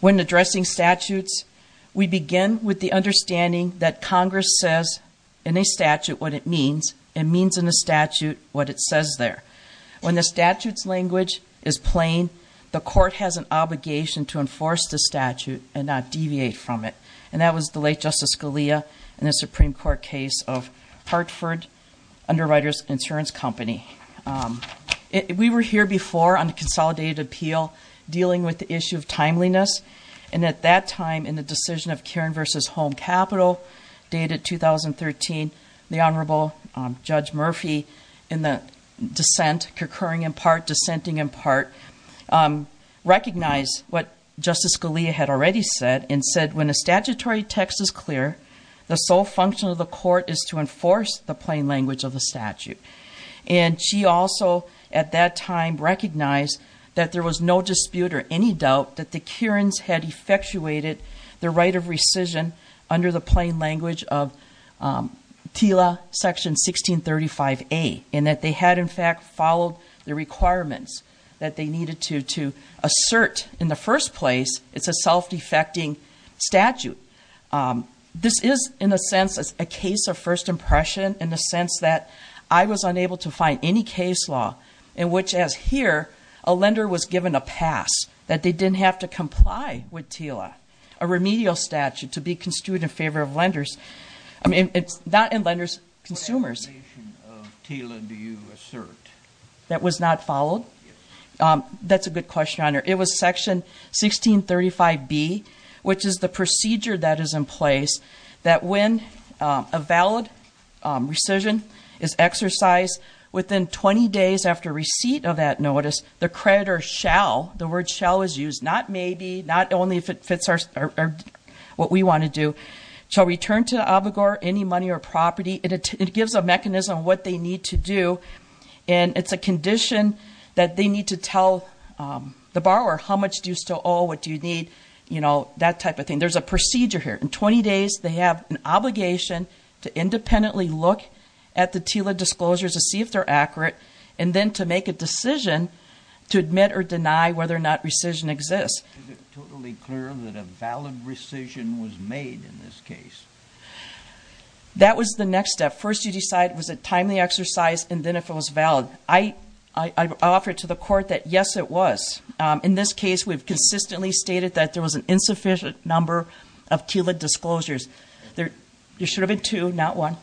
When addressing statutes, we begin with the understanding that Congress says in a statute what it means and means in a statute what it says there. When the statute's language is plain, the court has an obligation to enforce the statute and not deviate from it. And that was the late Justice Scalia in the Supreme Court case of Hartford Underwriters Insurance Company. We were here before on the Consolidated Appeal dealing with the issue of timeliness, and at that time in the decision of Cairn v. Home Capital dated 2013, the Honorable Judge Murphy in the dissent, concurring in part, dissenting in part, recognized what Justice Scalia had already said and said when a statutory text is clear, the sole function of the court is to enforce the plain language of the statute. And she also, at that time, recognized that there was no dispute or any doubt that the Cairns had effectuated their right of rescission under the plain language of TILA Section 1635A, and that they had in fact followed the requirements that they needed to assert in the first place it's a self-defecting statute. This is, in a sense, a case of first impression in the sense that I was unable to find any case law in which, as here, a lender was given a pass, that they didn't have to comply with TILA, a remedial statute to be construed in favor of lenders. I mean, it's not in lenders, consumers. What definition of TILA do you assert? That was not followed? Yes. That's a good question, Your Honor. It was Section 1635B, which is the procedure that is in place that when a valid rescission is exercised within 20 days after receipt of that notice, the creditor shall, the word shall is used, not maybe, not only if it fits what we want to do, shall return to OBIGOR any money or property. It gives a mechanism on what they need to do and it's a condition that they need to tell the borrower how much do you still owe, what do you need, you know, that type of thing. There's a procedure here. In 20 days, they have an obligation to independently look at the TILA disclosures to see if they're accurate and then to make a decision to admit or deny whether or not rescission exists. Is it totally clear that a valid rescission was made in this case? That was the next step. First you decide was it a timely exercise and then if it was valid. I offered to the court that yes, it was. In this case, we've consistently stated that there was an insufficient number of TILA disclosures. There should have been two, not one.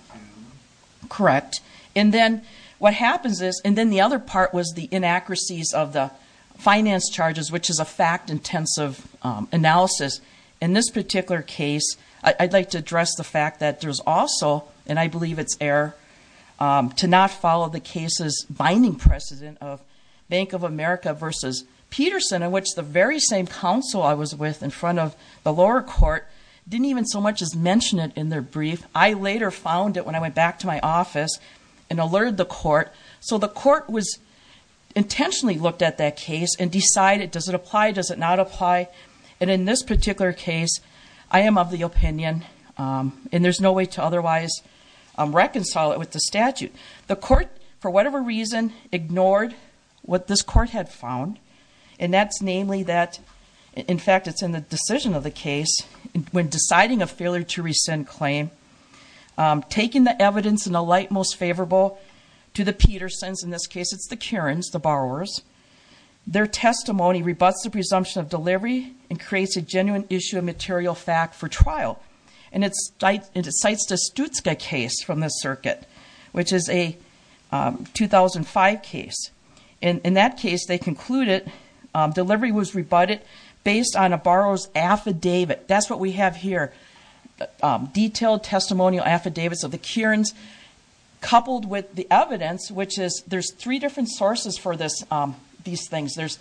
Correct. And then what happens is, and then the other part was the inaccuracies of the finance charges, which is a fact-intensive analysis. In this particular case, I'd like to address the fact that there's also, and I believe it's error, to not follow the case's binding precedent of Bank of America versus Peterson, in which the very same counsel I was with in front of the lower court didn't even so much as mention it in their brief. I later found it when I went back to my office and alerted the court. So the court was intentionally looked at that case and decided, does it apply, does it not apply? And in this particular case, I am of the opinion, and there's no way to otherwise reconcile it with the statute. The court, for whatever reason, ignored what this court had found. And that's namely that, in fact, it's in the decision of the case, when deciding a failure to rescind claim, taking the evidence in the light most favorable to the Petersons, in this case it's the Karens, the borrowers, their testimony rebuts the presumption of delivery and creates a genuine issue of material fact for trial. And it cites the Stutzka case from the circuit, which is a 2005 case. In that case, they concluded delivery was rebutted based on a borrower's affidavit. That's what we have here. Detailed testimonial affidavits of the Karens, coupled with the evidence, which is, there's three different sources for these things. There's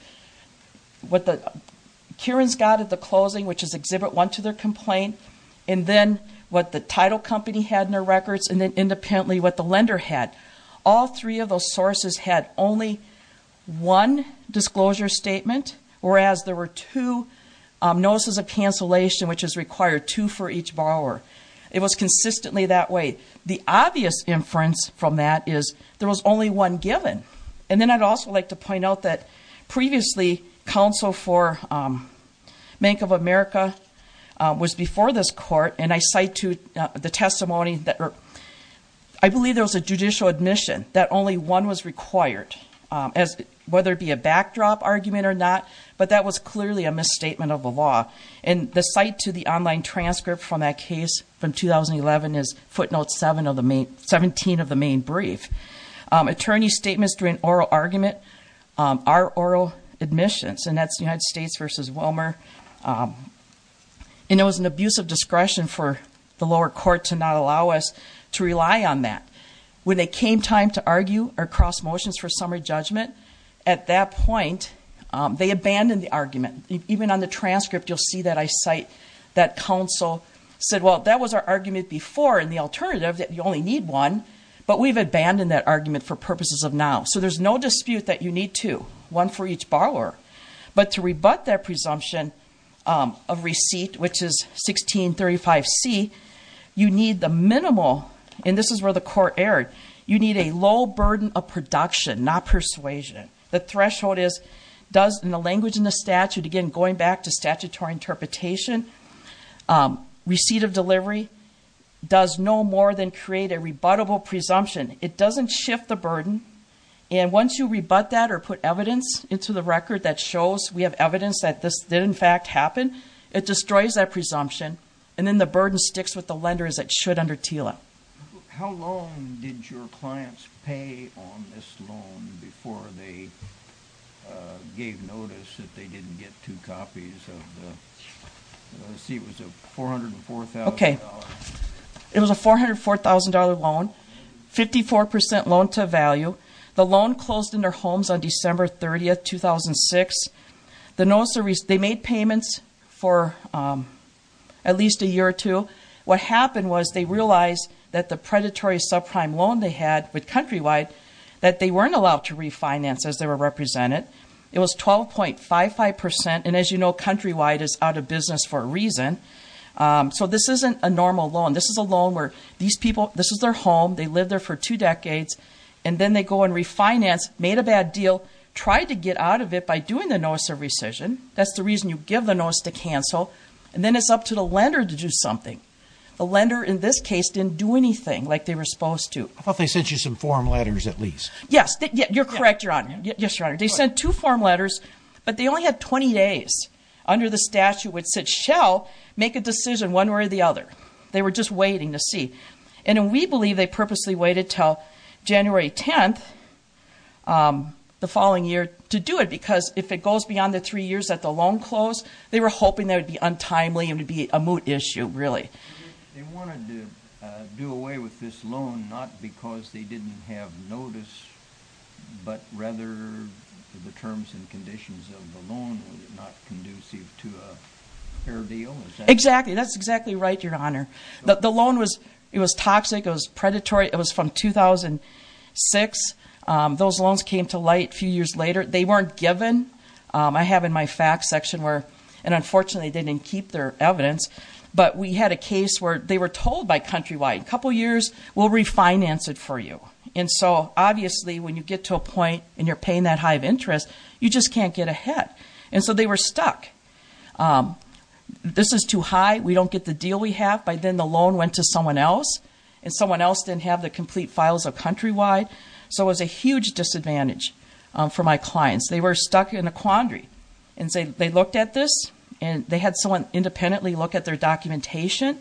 what the Karens got at the closing, which is exhibit one to their complaint, and then what the title company had in their records, and then independently what the lender had. All three of those sources had only one disclosure statement, whereas there were two notices of cancellation, which is required two for each borrower. It was consistently that way. The obvious inference from that is there was only one given. And then I'd also like to point out that previously, counsel for Bank of America was before this court, and I cite to the testimony, I believe there was a judicial admission that only one was required, whether it be a backdrop argument or not, but that was clearly a misstatement of the law. And the cite to the online transcript from that case from 2011 is footnote 17 of the main brief. Attorney's statements during oral argument are oral admissions, and that's United States versus Willmar. And it was an abuse of discretion for the lower court to not allow us to rely on that. When it came time to argue or cross motions for summary judgment, at that point, they abandoned the argument. Even on the transcript, you'll see that I cite that counsel said, well, that was our argument before in the alternative that you only need one, but we've abandoned that argument for purposes of now. So there's no dispute that you need two, one for each borrower. But to rebut that presumption of receipt, which is 1635C, you need the minimal, and this is where the court erred, you need a low burden of production, not persuasion. The threshold is, in the language in the statute, again, going back to statutory interpretation, receipt of delivery does no more than create a rebuttable presumption. It doesn't shift the burden. And once you rebut that or put evidence into the record that shows we have evidence that this did in fact happen, it destroys that presumption. And then the burden sticks with the lenders that should under TILA. How long did your clients pay on this loan before they gave notice that they didn't get two copies of the, let's see, it was a $404,000. It was a $404,000 loan, 54% loan to value. The loan closed in their homes on December 30th, 2006. They made payments for at least a year or two. What happened was they realized that the predatory subprime loan they had with Countrywide, that they weren't allowed to refinance as they were represented. It was 12.55%. And as you know, Countrywide is out of business for a reason. So this isn't a normal loan. This is a loan where these people, this is their home, they lived there for two decades, and then they go and refinance, made a bad deal, tried to get out of it by doing the notice of rescission. That's the reason you give the notice to cancel. And then it's up to the lender to do something. The lender in this case didn't do anything like they were supposed to. I thought they sent you some form letters at least. Yes. You're correct, Your Honor. Yes, Your Honor. They sent two form letters, but they only had 20 days under the statute which said, shall make a decision one way or the other. They were just waiting to see. And we believe they purposely waited until January 10th, the following year, to do it because if it goes beyond the three years that the loan closed, they were hoping that it would be untimely and it would be a moot issue, really. They wanted to do away with this loan not because they didn't have notice, but rather the terms and conditions of the loan were not conducive to a fair deal, is that right? Exactly. That's exactly right, Your Honor. The loan was toxic, it was predatory. It was from 2006. Those loans came to light a few years later. They weren't given. I have in my facts section where, and unfortunately they didn't keep their evidence, but we had a case where they were told by Countrywide, a couple years, we'll refinance it for you. And so obviously when you get to a point and you're paying that high of interest, you just can't get ahead. And so they were stuck. This is too high, we don't get the deal we have. By then the loan went to someone else and someone else didn't have the complete files of Countrywide. So it was a huge disadvantage for my clients. They were stuck in a quandary. They looked at this and they had someone independently look at their documentation.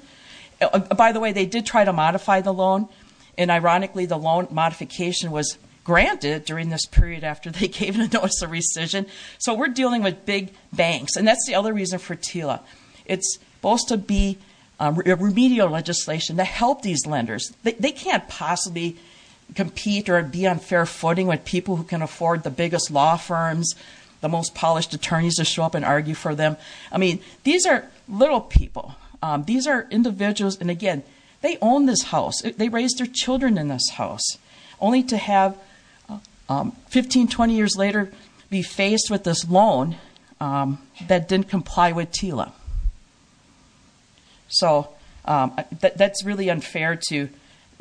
By the way, they did try to modify the loan and ironically the loan modification was granted during this period after they gave a notice of rescission. So we're dealing with big banks and that's the other reason for TILA. It's supposed to be remedial legislation to help these lenders. They can't possibly compete or be on fair footing with people who can afford the biggest law firms, the most polished attorneys to show up and argue for them. I mean, these are little people. These are individuals, and again, they own this house. They raised their children in this house only to have 15, 20 years later be faced with this loan that didn't comply with TILA. So that's really unfair to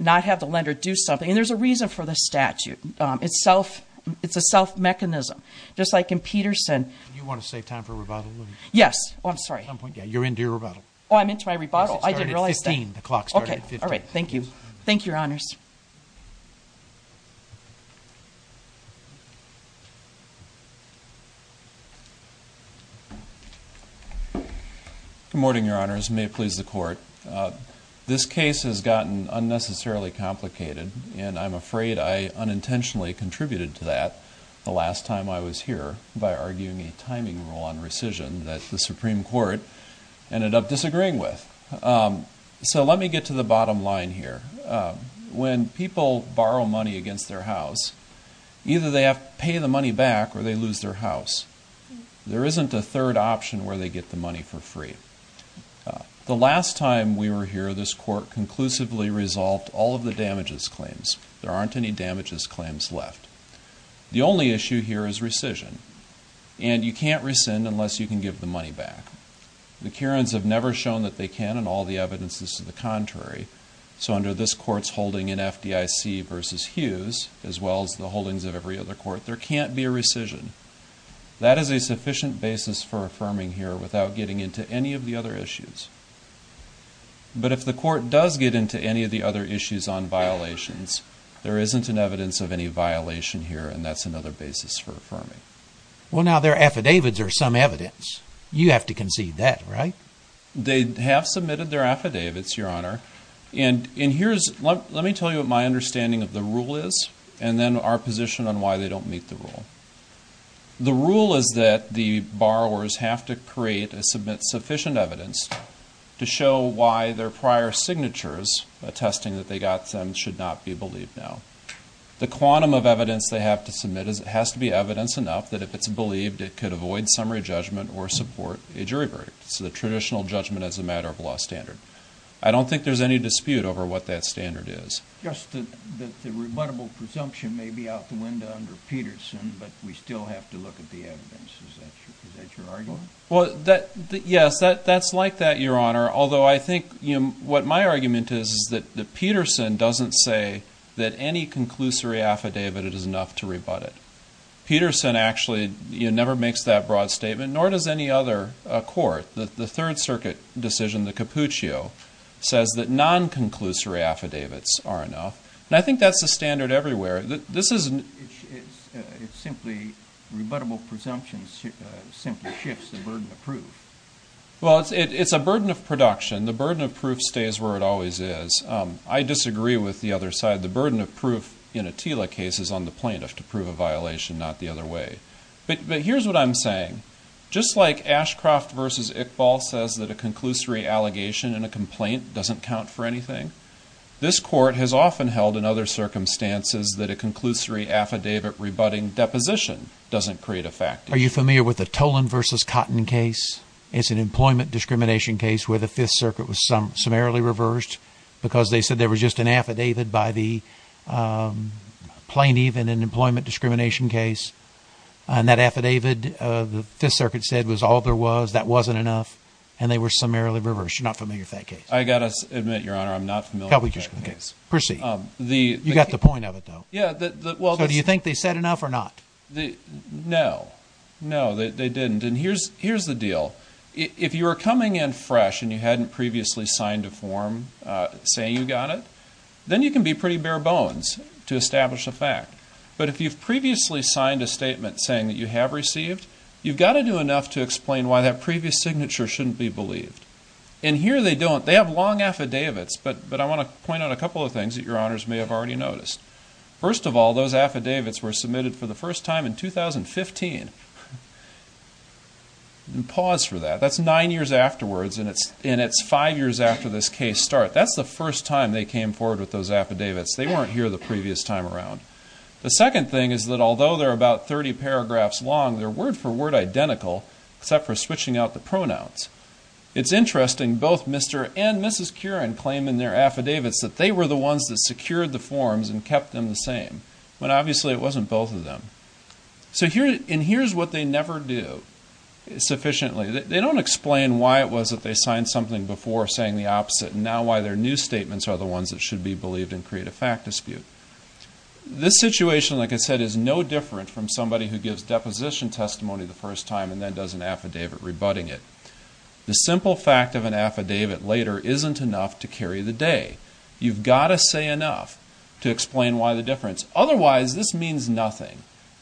not have the lender do something. And there's a reason for the statute. It's a self-mechanism. Just like in Peterson. Do you want to save time for rebuttal? Yes. Oh, I'm sorry. At some point, yeah. You're into your rebuttal. Oh, I'm into my rebuttal. I didn't realize that. It started at 15. The clock started at 15. Okay. All right. Thank you. Thank you, Your Honors. Good morning, Your Honors. May it please the Court. This case has gotten unnecessarily complicated, and I'm afraid I unintentionally contributed to that the last time I was here by arguing a timing rule on rescission that the Supreme Court ended up disagreeing with. So let me get to the bottom line here. When people borrow money against their house, either they have to pay the money back or they lose their house. There isn't a third option where they get the money for free. The last time we were here, this Court conclusively resolved all of the damages claims. There aren't any damages claims left. The only issue here is rescission. And you can't rescind unless you can give the money back. The Karens have never shown that they can, and all the evidence is to the contrary. So under this Court's versus Hughes, as well as the holdings of every other Court, there can't be a rescission. That is a sufficient basis for affirming here without getting into any of the other issues. But if the Court does get into any of the other issues on violations, there isn't an evidence of any violation here, and that's another basis for affirming. Well now, their affidavits are some evidence. You have to concede that, right? They have submitted their affidavits, Your Honor. And here's, let me tell you what my understanding of the rule is, and then our position on why they don't meet the rule. The rule is that the borrowers have to create and submit sufficient evidence to show why their prior signatures attesting that they got them should not be believed now. The quantum of evidence they have to submit has to be evidence enough that if it's believed it could avoid summary judgment or support a jury verdict. So the traditional judgment as a matter of law standard. I don't think there's any dispute over what that standard is. Yes, the rebuttable presumption may be out the window under Peterson, but we still have to look at the evidence. Is that your argument? Well, yes, that's like that, Your Honor. Although I think, you know, what my argument is, is that Peterson doesn't say that any conclusory affidavit is enough to rebut it. Peterson actually, you know, never makes that broad statement, nor does any other court. The Third Circuit decision, the Cappuccio, says that non-conclusory affidavits are enough. And I think that's the standard everywhere. This isn't... It's simply, rebuttable presumption simply shifts the burden of proof. Well, it's a burden of production. The burden of proof stays where it always is. I disagree with the other side. The burden of proof in a TILA case is on the plaintiff to prove a way. But here's what I'm saying. Just like Ashcroft v. Iqbal says that a conclusory allegation in a complaint doesn't count for anything, this Court has often held in other circumstances that a conclusory affidavit rebutting deposition doesn't create a fact. Are you familiar with the Tolan v. Cotton case? It's an employment discrimination case where the Fifth Circuit was summarily reversed because they said there was just an affidavit by the plaintiff in an employment discrimination case. And that affidavit, the Fifth Circuit said was all there was, that wasn't enough. And they were summarily reversed. You're not familiar with that case? I've got to admit, Your Honor, I'm not familiar with that case. Proceed. You've got the point of it, though. So do you think they said enough or not? No. No, they didn't. And here's the deal. If you were coming in fresh and you hadn't previously signed a form saying you got it, then you can be pretty bare bones to establish a fact. But if you've previously signed a statement saying that you have received, you've got to do enough to explain why that previous signature shouldn't be believed. And here they don't. They have long affidavits, but I want to point out a couple of things that Your Honors may have already noticed. First of all, those affidavits were submitted for the first time in 2015. Pause for that. That's nine years afterwards, and it's five years after this case started. That's the first time they came forward with those affidavits. They weren't here the previous time around. The second thing is that although they're about 30 paragraphs long, they're word for word identical, except for switching out the pronouns. It's interesting, both Mr. and Mrs. Curran claim in their affidavits that they were the ones that secured the forms and kept them the same, when obviously it wasn't both of them. So here's what they never do sufficiently. They don't explain why it was that they signed something before saying the opposite, and now why their new statements are the ones that should be believed and create a fact dispute. This situation, like I said, is no different from somebody who gives deposition testimony the first time and then does an affidavit rebutting it. The simple fact of an affidavit later isn't enough to carry the day. You've got to say enough to explain why the difference. Otherwise this means nothing.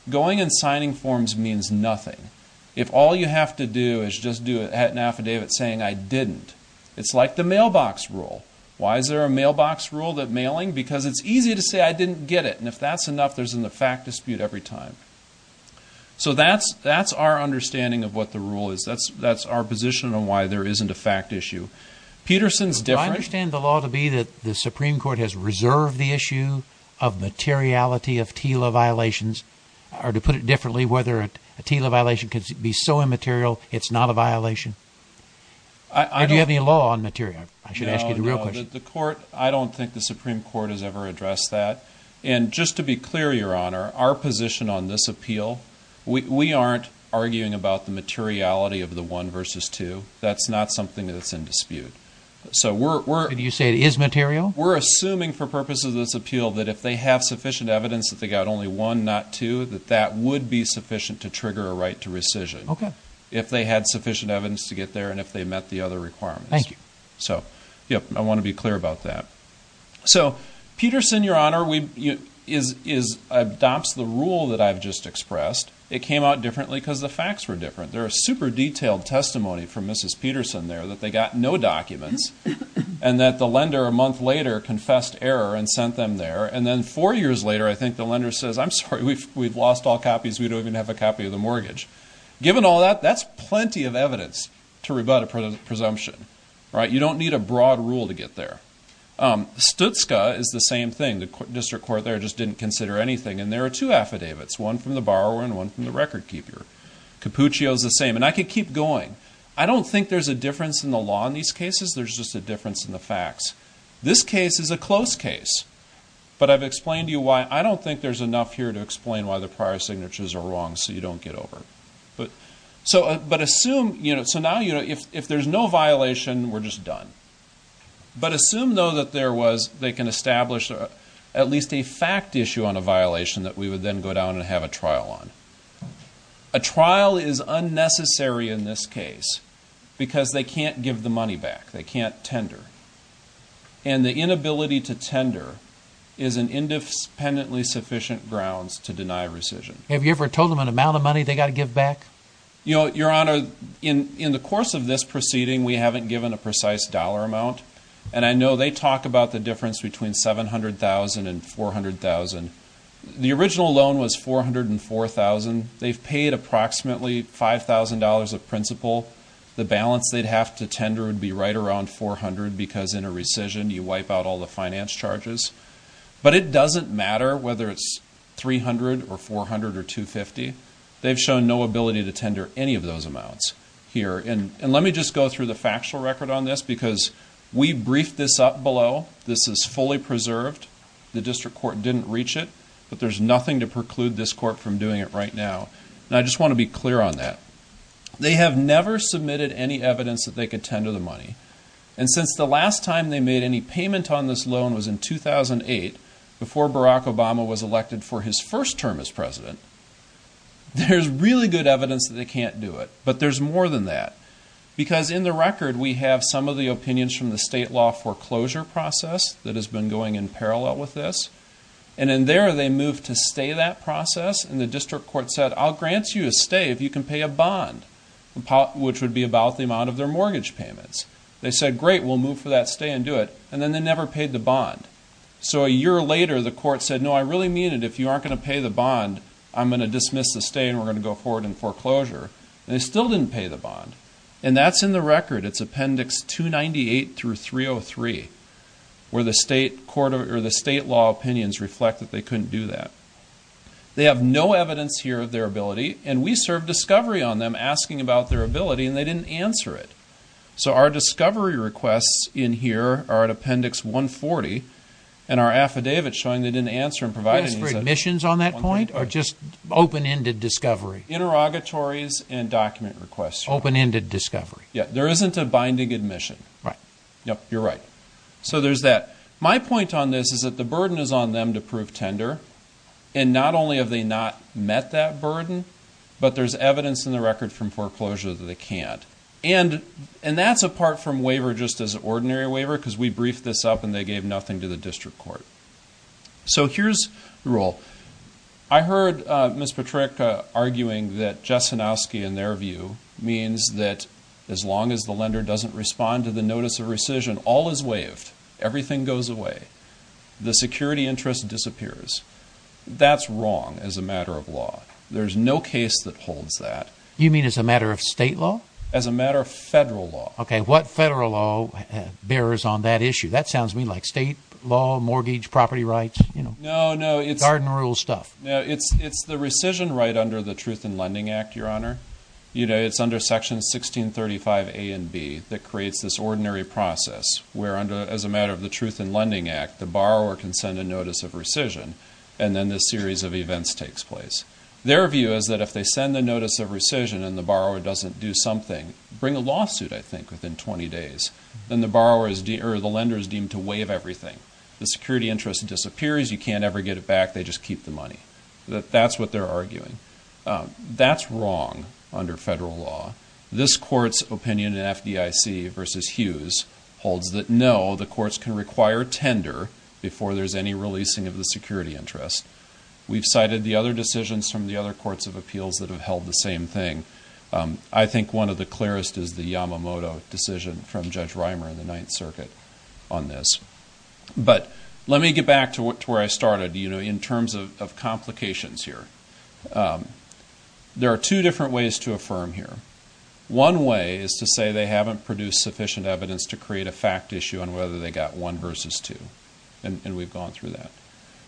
Going and signing forms means nothing. If all you have to do is just do an affidavit saying I didn't, it's like the mailbox rule. Why is there a mailbox rule that mailing? Because it's easy to say I didn't get it, and if that's enough, there's a fact dispute every time. So that's our understanding of what the rule is. That's our position on why there isn't a fact issue. Peterson's different. I understand the law to be that the Supreme Court has reserved the issue of materiality of TILA violations, or to put it differently, whether a TILA violation could be so immaterial it's not a violation. Do you have any law on material? I should ask you the real question. I don't think the Supreme Court has ever addressed that. And just to be clear, Your Honor, our position on this appeal, we aren't arguing about the materiality of the one versus two. That's not something that's in dispute. So we're... Did you say it is material? We're assuming for purposes of this appeal that if they have sufficient evidence that they got only one, not two, that that would be sufficient to trigger a right to rescission. If they had sufficient evidence to get there and if they met the other requirements. Thank you. So, yep, I want to be clear about that. So Peterson, Your Honor, adopts the rule that I've just expressed. It came out differently because the facts were different. There are super detailed testimony from Mrs. Peterson there that they got no documents and that the lender a month later confessed error and sent them there. And then four years later, I think the lender says, I'm sorry, we've lost all copies. We don't even have a copy of the mortgage. Given all that, that's plenty of evidence to rebut a presumption, right? You don't need a broad rule to get there. Stutzka is the same thing. The district court there just didn't consider anything. And there are two affidavits, one from the borrower and one from the record keeper. Capuccio is the same. And I could keep going. I don't think there's a difference in the law in these cases. There's just a difference in the facts. This case is a close case. But I've explained to you why. I don't think there's enough here to explain why the prior signatures are wrong so you don't get over it. But assume, you know, so now, you know, if there's no violation, we're just done. But assume, though, that there was, they can establish at least a fact issue on a violation that we would then go down and have a trial on. A trial is unnecessary in this case because they can't give the money back. They can't tender. And the inability to tender is an independently sufficient grounds to deny rescission. Have you ever told them an amount of money they've got to give back? You know, Your Honor, in the course of this proceeding, we haven't given a precise dollar amount. And I know they talk about the difference between $700,000 and $400,000. The original loan was $400,000 and $4,000. They've paid approximately $5,000 of principal. The balance they'd have to tender would be right around $400,000 because in a rescission, you wipe out all the finance charges. But it doesn't matter whether it's $300,000 or $400,000 or $250,000. They've shown no ability to tender any of those amounts here. And let me just go through the factual record on this because we briefed this up below. This is fully preserved. The district court didn't reach it. But there's nothing to preclude this court from doing it right now. And I just want to be clear on that. They have never submitted any evidence that they could tender the money. And since the last time they made any payment on this loan was in 2008, before Barack Obama was elected for his first term as president, there's really good evidence that they can't do it. But there's more than that. Because in the record, we have some of the opinions from the state law foreclosure process that has been going in parallel with this. And in there, they moved to stay that process. And the district court said, I'll grant you a stay if you can pay a bond, which would be about the amount of their mortgage payments. They said, great, we'll move for that stay and do it. And then they never paid the bond. So a year later, the court said, no, I really mean it. If you aren't going to pay the bond, I'm going to dismiss the stay and we're going to go forward in foreclosure. And they still didn't pay the bond. And that's in the record. It's Appendix 298 through 303, where the state law opinions reflect that they couldn't do that. They have no evidence here of their ability. And we served discovery on them asking about their ability, and they didn't answer it. So our discovery requests in here are at Appendix 140, and our affidavit showing that they didn't answer and provided... Do you ask for admissions on that point, or just open-ended discovery? Interrogatories and document requests. Open-ended discovery. There isn't a binding admission. Right. Yep, you're right. So there's that. My point on this is that the burden is on them to prove tender. And not only have they not met that burden, but there's evidence in the record from foreclosure that they can't. And that's apart from waiver just as ordinary waiver, because we briefed this up and they gave nothing to the district court. So here's the rule. I heard Ms. Patryk arguing that Jessenowski, in their view, means that as long as the lender doesn't respond to the notice of rescission, all is waived. Everything goes away. The security interest disappears. That's wrong as a matter of law. There's no case that holds that. You mean as a matter of state law? As a matter of federal law. What federal law bears on that issue? That sounds to me like state law, mortgage, property rights, you know, garden rule stuff. No, it's the rescission right under the Truth in Lending Act, Your Honor. It's under Sections 1635A and B that creates this ordinary process, where as a matter of the Truth in Lending Act, the borrower can send a notice of rescission, and then this series of events takes place. Their view is that if they send the notice of rescission and the borrower doesn't do something, bring a lawsuit, I think, within 20 days, then the lender is deemed to waive everything. The security interest disappears. You can't ever get it back. They just keep the money. That's what they're arguing. That's wrong under federal law. This Court's opinion in FDIC versus Hughes holds that no, the courts can require tender before there's any releasing of the security interest. We've cited the other decisions from the other courts of appeals that have held the same thing. I think one of the clearest is the Yamamoto decision from Judge Reimer in the Ninth Circuit on this. But let me get back to where I started, you know, in terms of complications here. There are two different ways to affirm here. One way is to say they haven't produced sufficient evidence to create a fact issue on whether they got one versus two, and we've gone through that.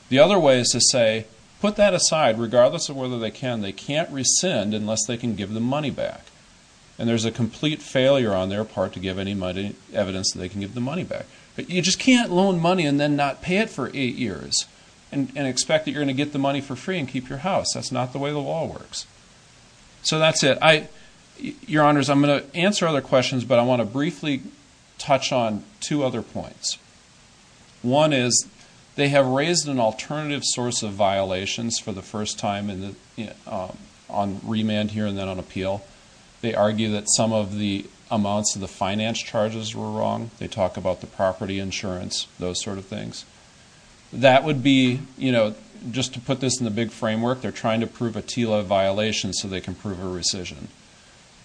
The other way is to say, put that aside, regardless of whether they can, they can't rescind unless they can give the money back. And there's a complete failure on their part to give any evidence that they can give the money back. But you just can't loan money and then not pay it for eight years and expect that you're going to get the money for free and keep your house. That's not the way the law works. So that's it. Your Honors, I'm going to answer other questions, but I want to briefly touch on two other points. One is, they have raised an alternative source of violations for the first time on remand here and then on appeal. They argue that some of the amounts of the finance charges were wrong. They talk about the property insurance, those sort of things. That would be, you know, just to put this in the big framework, they're trying to prove a TILA violation so they can prove a rescission.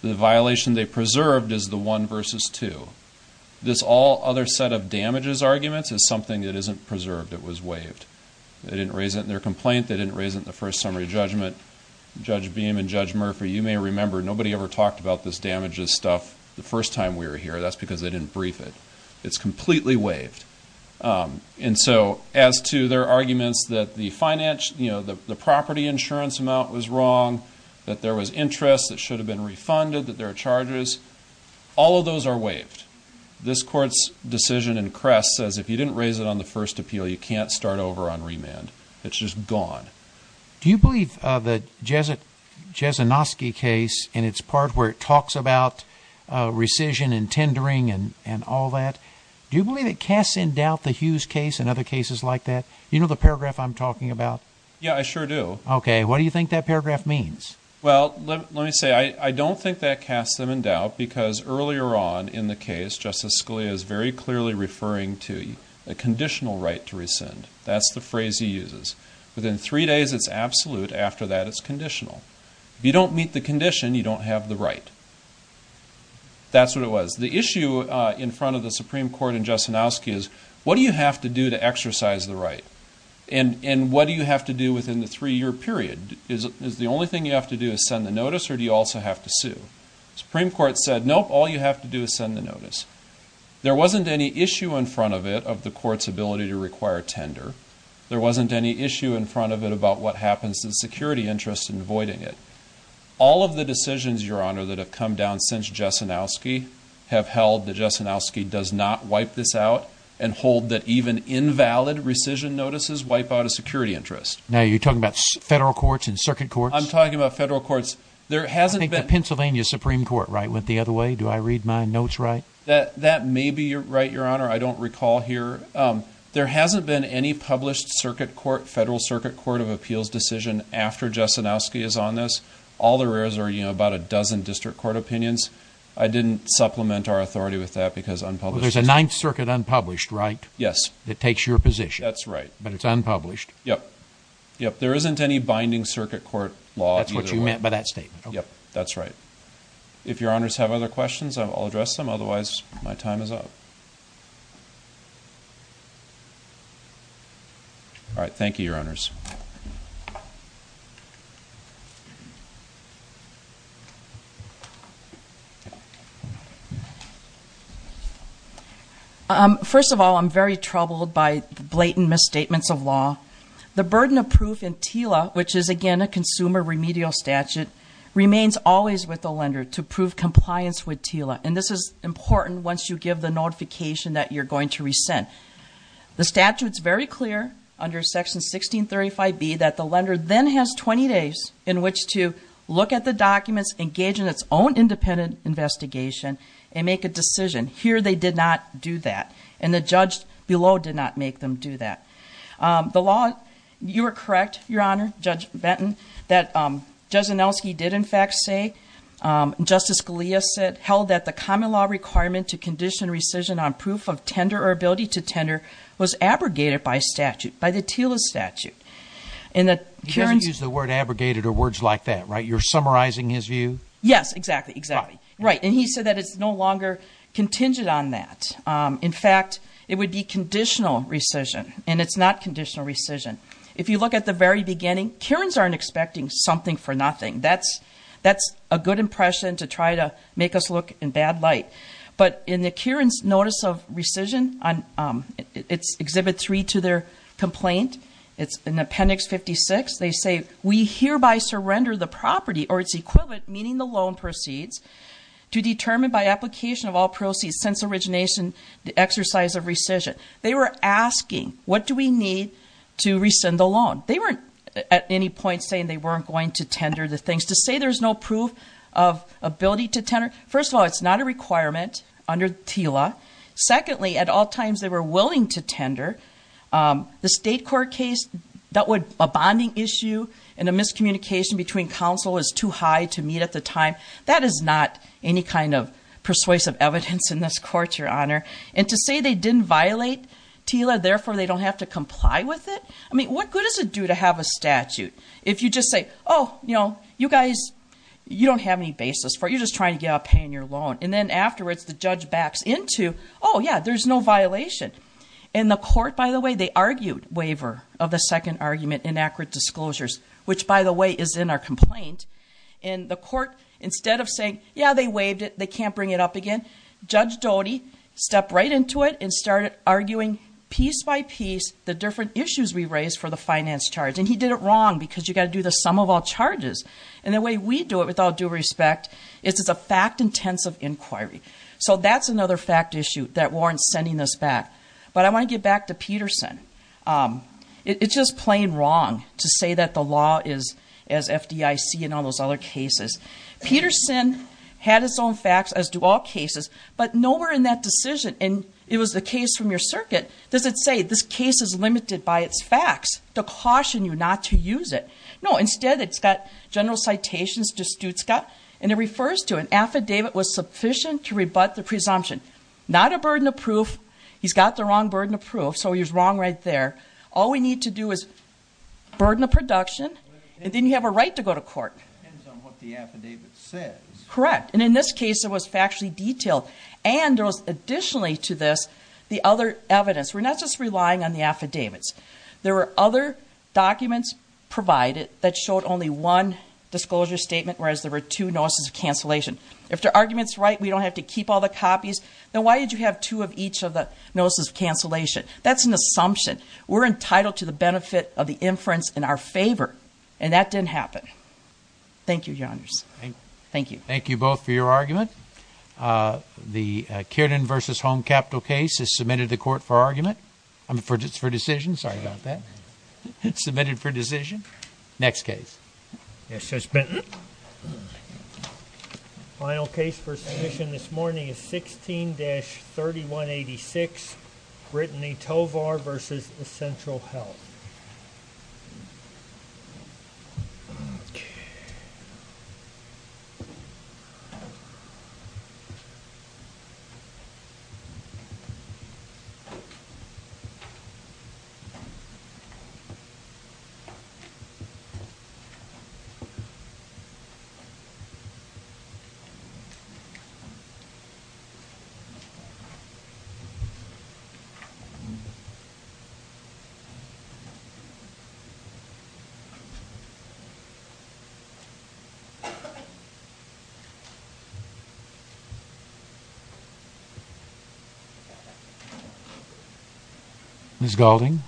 The violation they preserved is the one versus two. This all other set of damages arguments is something that isn't preserved. It was waived. They didn't raise it in their complaint. They didn't raise it in the first summary judgment. Judge Beam and Judge Murphy, you may remember, nobody ever talked about this damages stuff the first time we were here. That's because they didn't brief it. It's completely waived. And so, as to their arguments that the property insurance amount was wrong, that there was interest that should have been refunded, that there are charges, all of those are waived. This court's decision in Crest says if you didn't raise it on the first appeal, you can't start over on remand. It's just gone. Do you believe that the Jezinoski case and its part where it talks about rescission and tendering and all that, do you believe it casts in doubt the Hughes case and other cases like that? You know the paragraph I'm talking about? Yeah, I sure do. Okay. What do you think that paragraph means? Well, let me say, I don't think that casts them in doubt because earlier on in the case, Justice Scalia is very clearly referring to a conditional right to rescind. That's the phrase he uses. Within three days, it's absolute. After that, it's conditional. If you don't meet the condition, you don't have the right. That's what it was. The issue in front of the Supreme Court in Jezinoski is what do you have to do to exercise the right? And what do you have to do within the three-year period? Is the only thing you have to do is send the notice or do you also have to sue? The Supreme Court said, nope, all you have to do is send the notice. There wasn't any issue in front of it of the court's ability to require tender. There wasn't any issue in front of it about what happens to the security interest in voiding it. All of the decisions, Your Honor, that have come down since Jezinoski have held that Jezinoski does not wipe this out and hold that even invalid rescission notices wipe out a security interest. Now, you're talking about federal courts and circuit courts? I'm talking about federal courts. There hasn't been... I think the Pennsylvania Supreme Court went the other way. Do I read my notes right? That may be right, Your Honor. I don't recall here. There hasn't been any published circuit court, federal circuit court of appeals decision after Jezinoski is on this. All there is are about a dozen district court opinions. I didn't supplement our authority with that because unpublished... There's a Ninth Circuit unpublished, right? Yes. It takes your position. That's right. But it's unpublished. Yes. Yes. There isn't any binding circuit court law either way. That's what you meant by that statement. Yes. That's right. If Your Honors have other questions, I'll address them. Otherwise, my time is up. All right. Thank you, Your Honors. First of all, I'm very troubled by blatant misstatements of law. The burden of proof in TILA, which is again a consumer remedial statute, remains always with the lender to prove compliance with TILA. And this is important once you give the notification that you're going to rescind. The statute's very clear under Section 1635B that the lender then has 20 days in which to look at the documents, engage in its own independent investigation, and make a decision. Here, they did not do that. And the judge below did not make them do that. The law... You were correct, Your Honor, Judge Benton, that Jezinoski did in fact say, Justice Scalia said, held that the common law requirement to condition rescission on proof of tender or ability to tender was abrogated by statute, by the TILA statute. And that Kiran's... He doesn't use the word abrogated or words like that, right? You're summarizing his view? Yes. Exactly. Exactly. Right. And he said that it's no longer contingent on that. In fact, it would be conditional rescission, and it's not conditional rescission. If you look at the very beginning, Kiran's aren't expecting something for nothing. That's a good impression to try to make us look in a bad light. But in the Kiran's notice of rescission, it's Exhibit 3 to their complaint. It's in Appendix 56. They say, we hereby surrender the property or its equivalent, meaning the loan proceeds, to determine by application of all proceeds since origination, the exercise of rescission. They were asking, what do we need to rescind the loan? They weren't at any point saying they weren't going to tender the things. To say there's no proof of ability to tender, first of all, it's not a requirement under TILA. Secondly, at all times they were willing to tender. The state court case, that would... A bonding issue and a miscommunication between counsel is too high to meet at the time. That is not any kind of persuasive evidence in this court, Your Honor. And to say they didn't violate TILA, therefore they don't have to comply with it. I mean, what good does it do to have a statute? If you just say, oh, you know, you guys, you don't have any basis for it. You're just trying to get out paying your loan. And then afterwards, the judge backs into, oh, yeah, there's no violation. And the court, by the way, they argued waiver of the second argument, inaccurate disclosures, which by the way, is in our complaint. And the court, instead of saying, yeah, they waived it, they can't bring it up again, Judge Doty stepped right into it and started arguing piece by piece the different issues we raised for the finance charge. And he did it wrong because you got to do the sum of all charges. And the way we do it with all due respect is it's a fact-intensive inquiry. So that's another fact issue that warrants sending this back. But I want to get back to Peterson. It's just plain wrong to say that the law is as FDIC and all those other cases. Peterson had his own facts as do all cases, but nowhere in that decision, and it was the case from your circuit, does it say this case is limited by its facts to caution you not to use it? No. Instead, it's got general citations to Stutzcott, and it refers to an affidavit was sufficient to rebut the presumption. Not a burden of proof. He's got the wrong burden of proof, so he's wrong right there. All we need to do is burden the production, and then you have a right to go to court. It depends on what the affidavit says. Correct. And in this case, it was factually detailed. And there was additionally to this the other evidence. We're not just relying on the affidavits. There were other documents provided that showed only one disclosure statement, whereas there were two notices of cancellation. If the argument's right, we don't have to keep all the copies, then why did you have two of each of the notices of cancellation? That's an assumption. We're entitled to the benefit of the inference in our favor, and that didn't happen. Thank you, Your Honors. Thank you. Thank you both for your argument. The Kiernan v. Home Capital case is submitted to court for argument. I mean, for decision. Sorry about that. Submitted for decision. Next case. Yes, Judge Benton. Final case for submission this morning is 16-3186, Brittany Tovar v. Central Health. Thank you. Ms. Gaulding.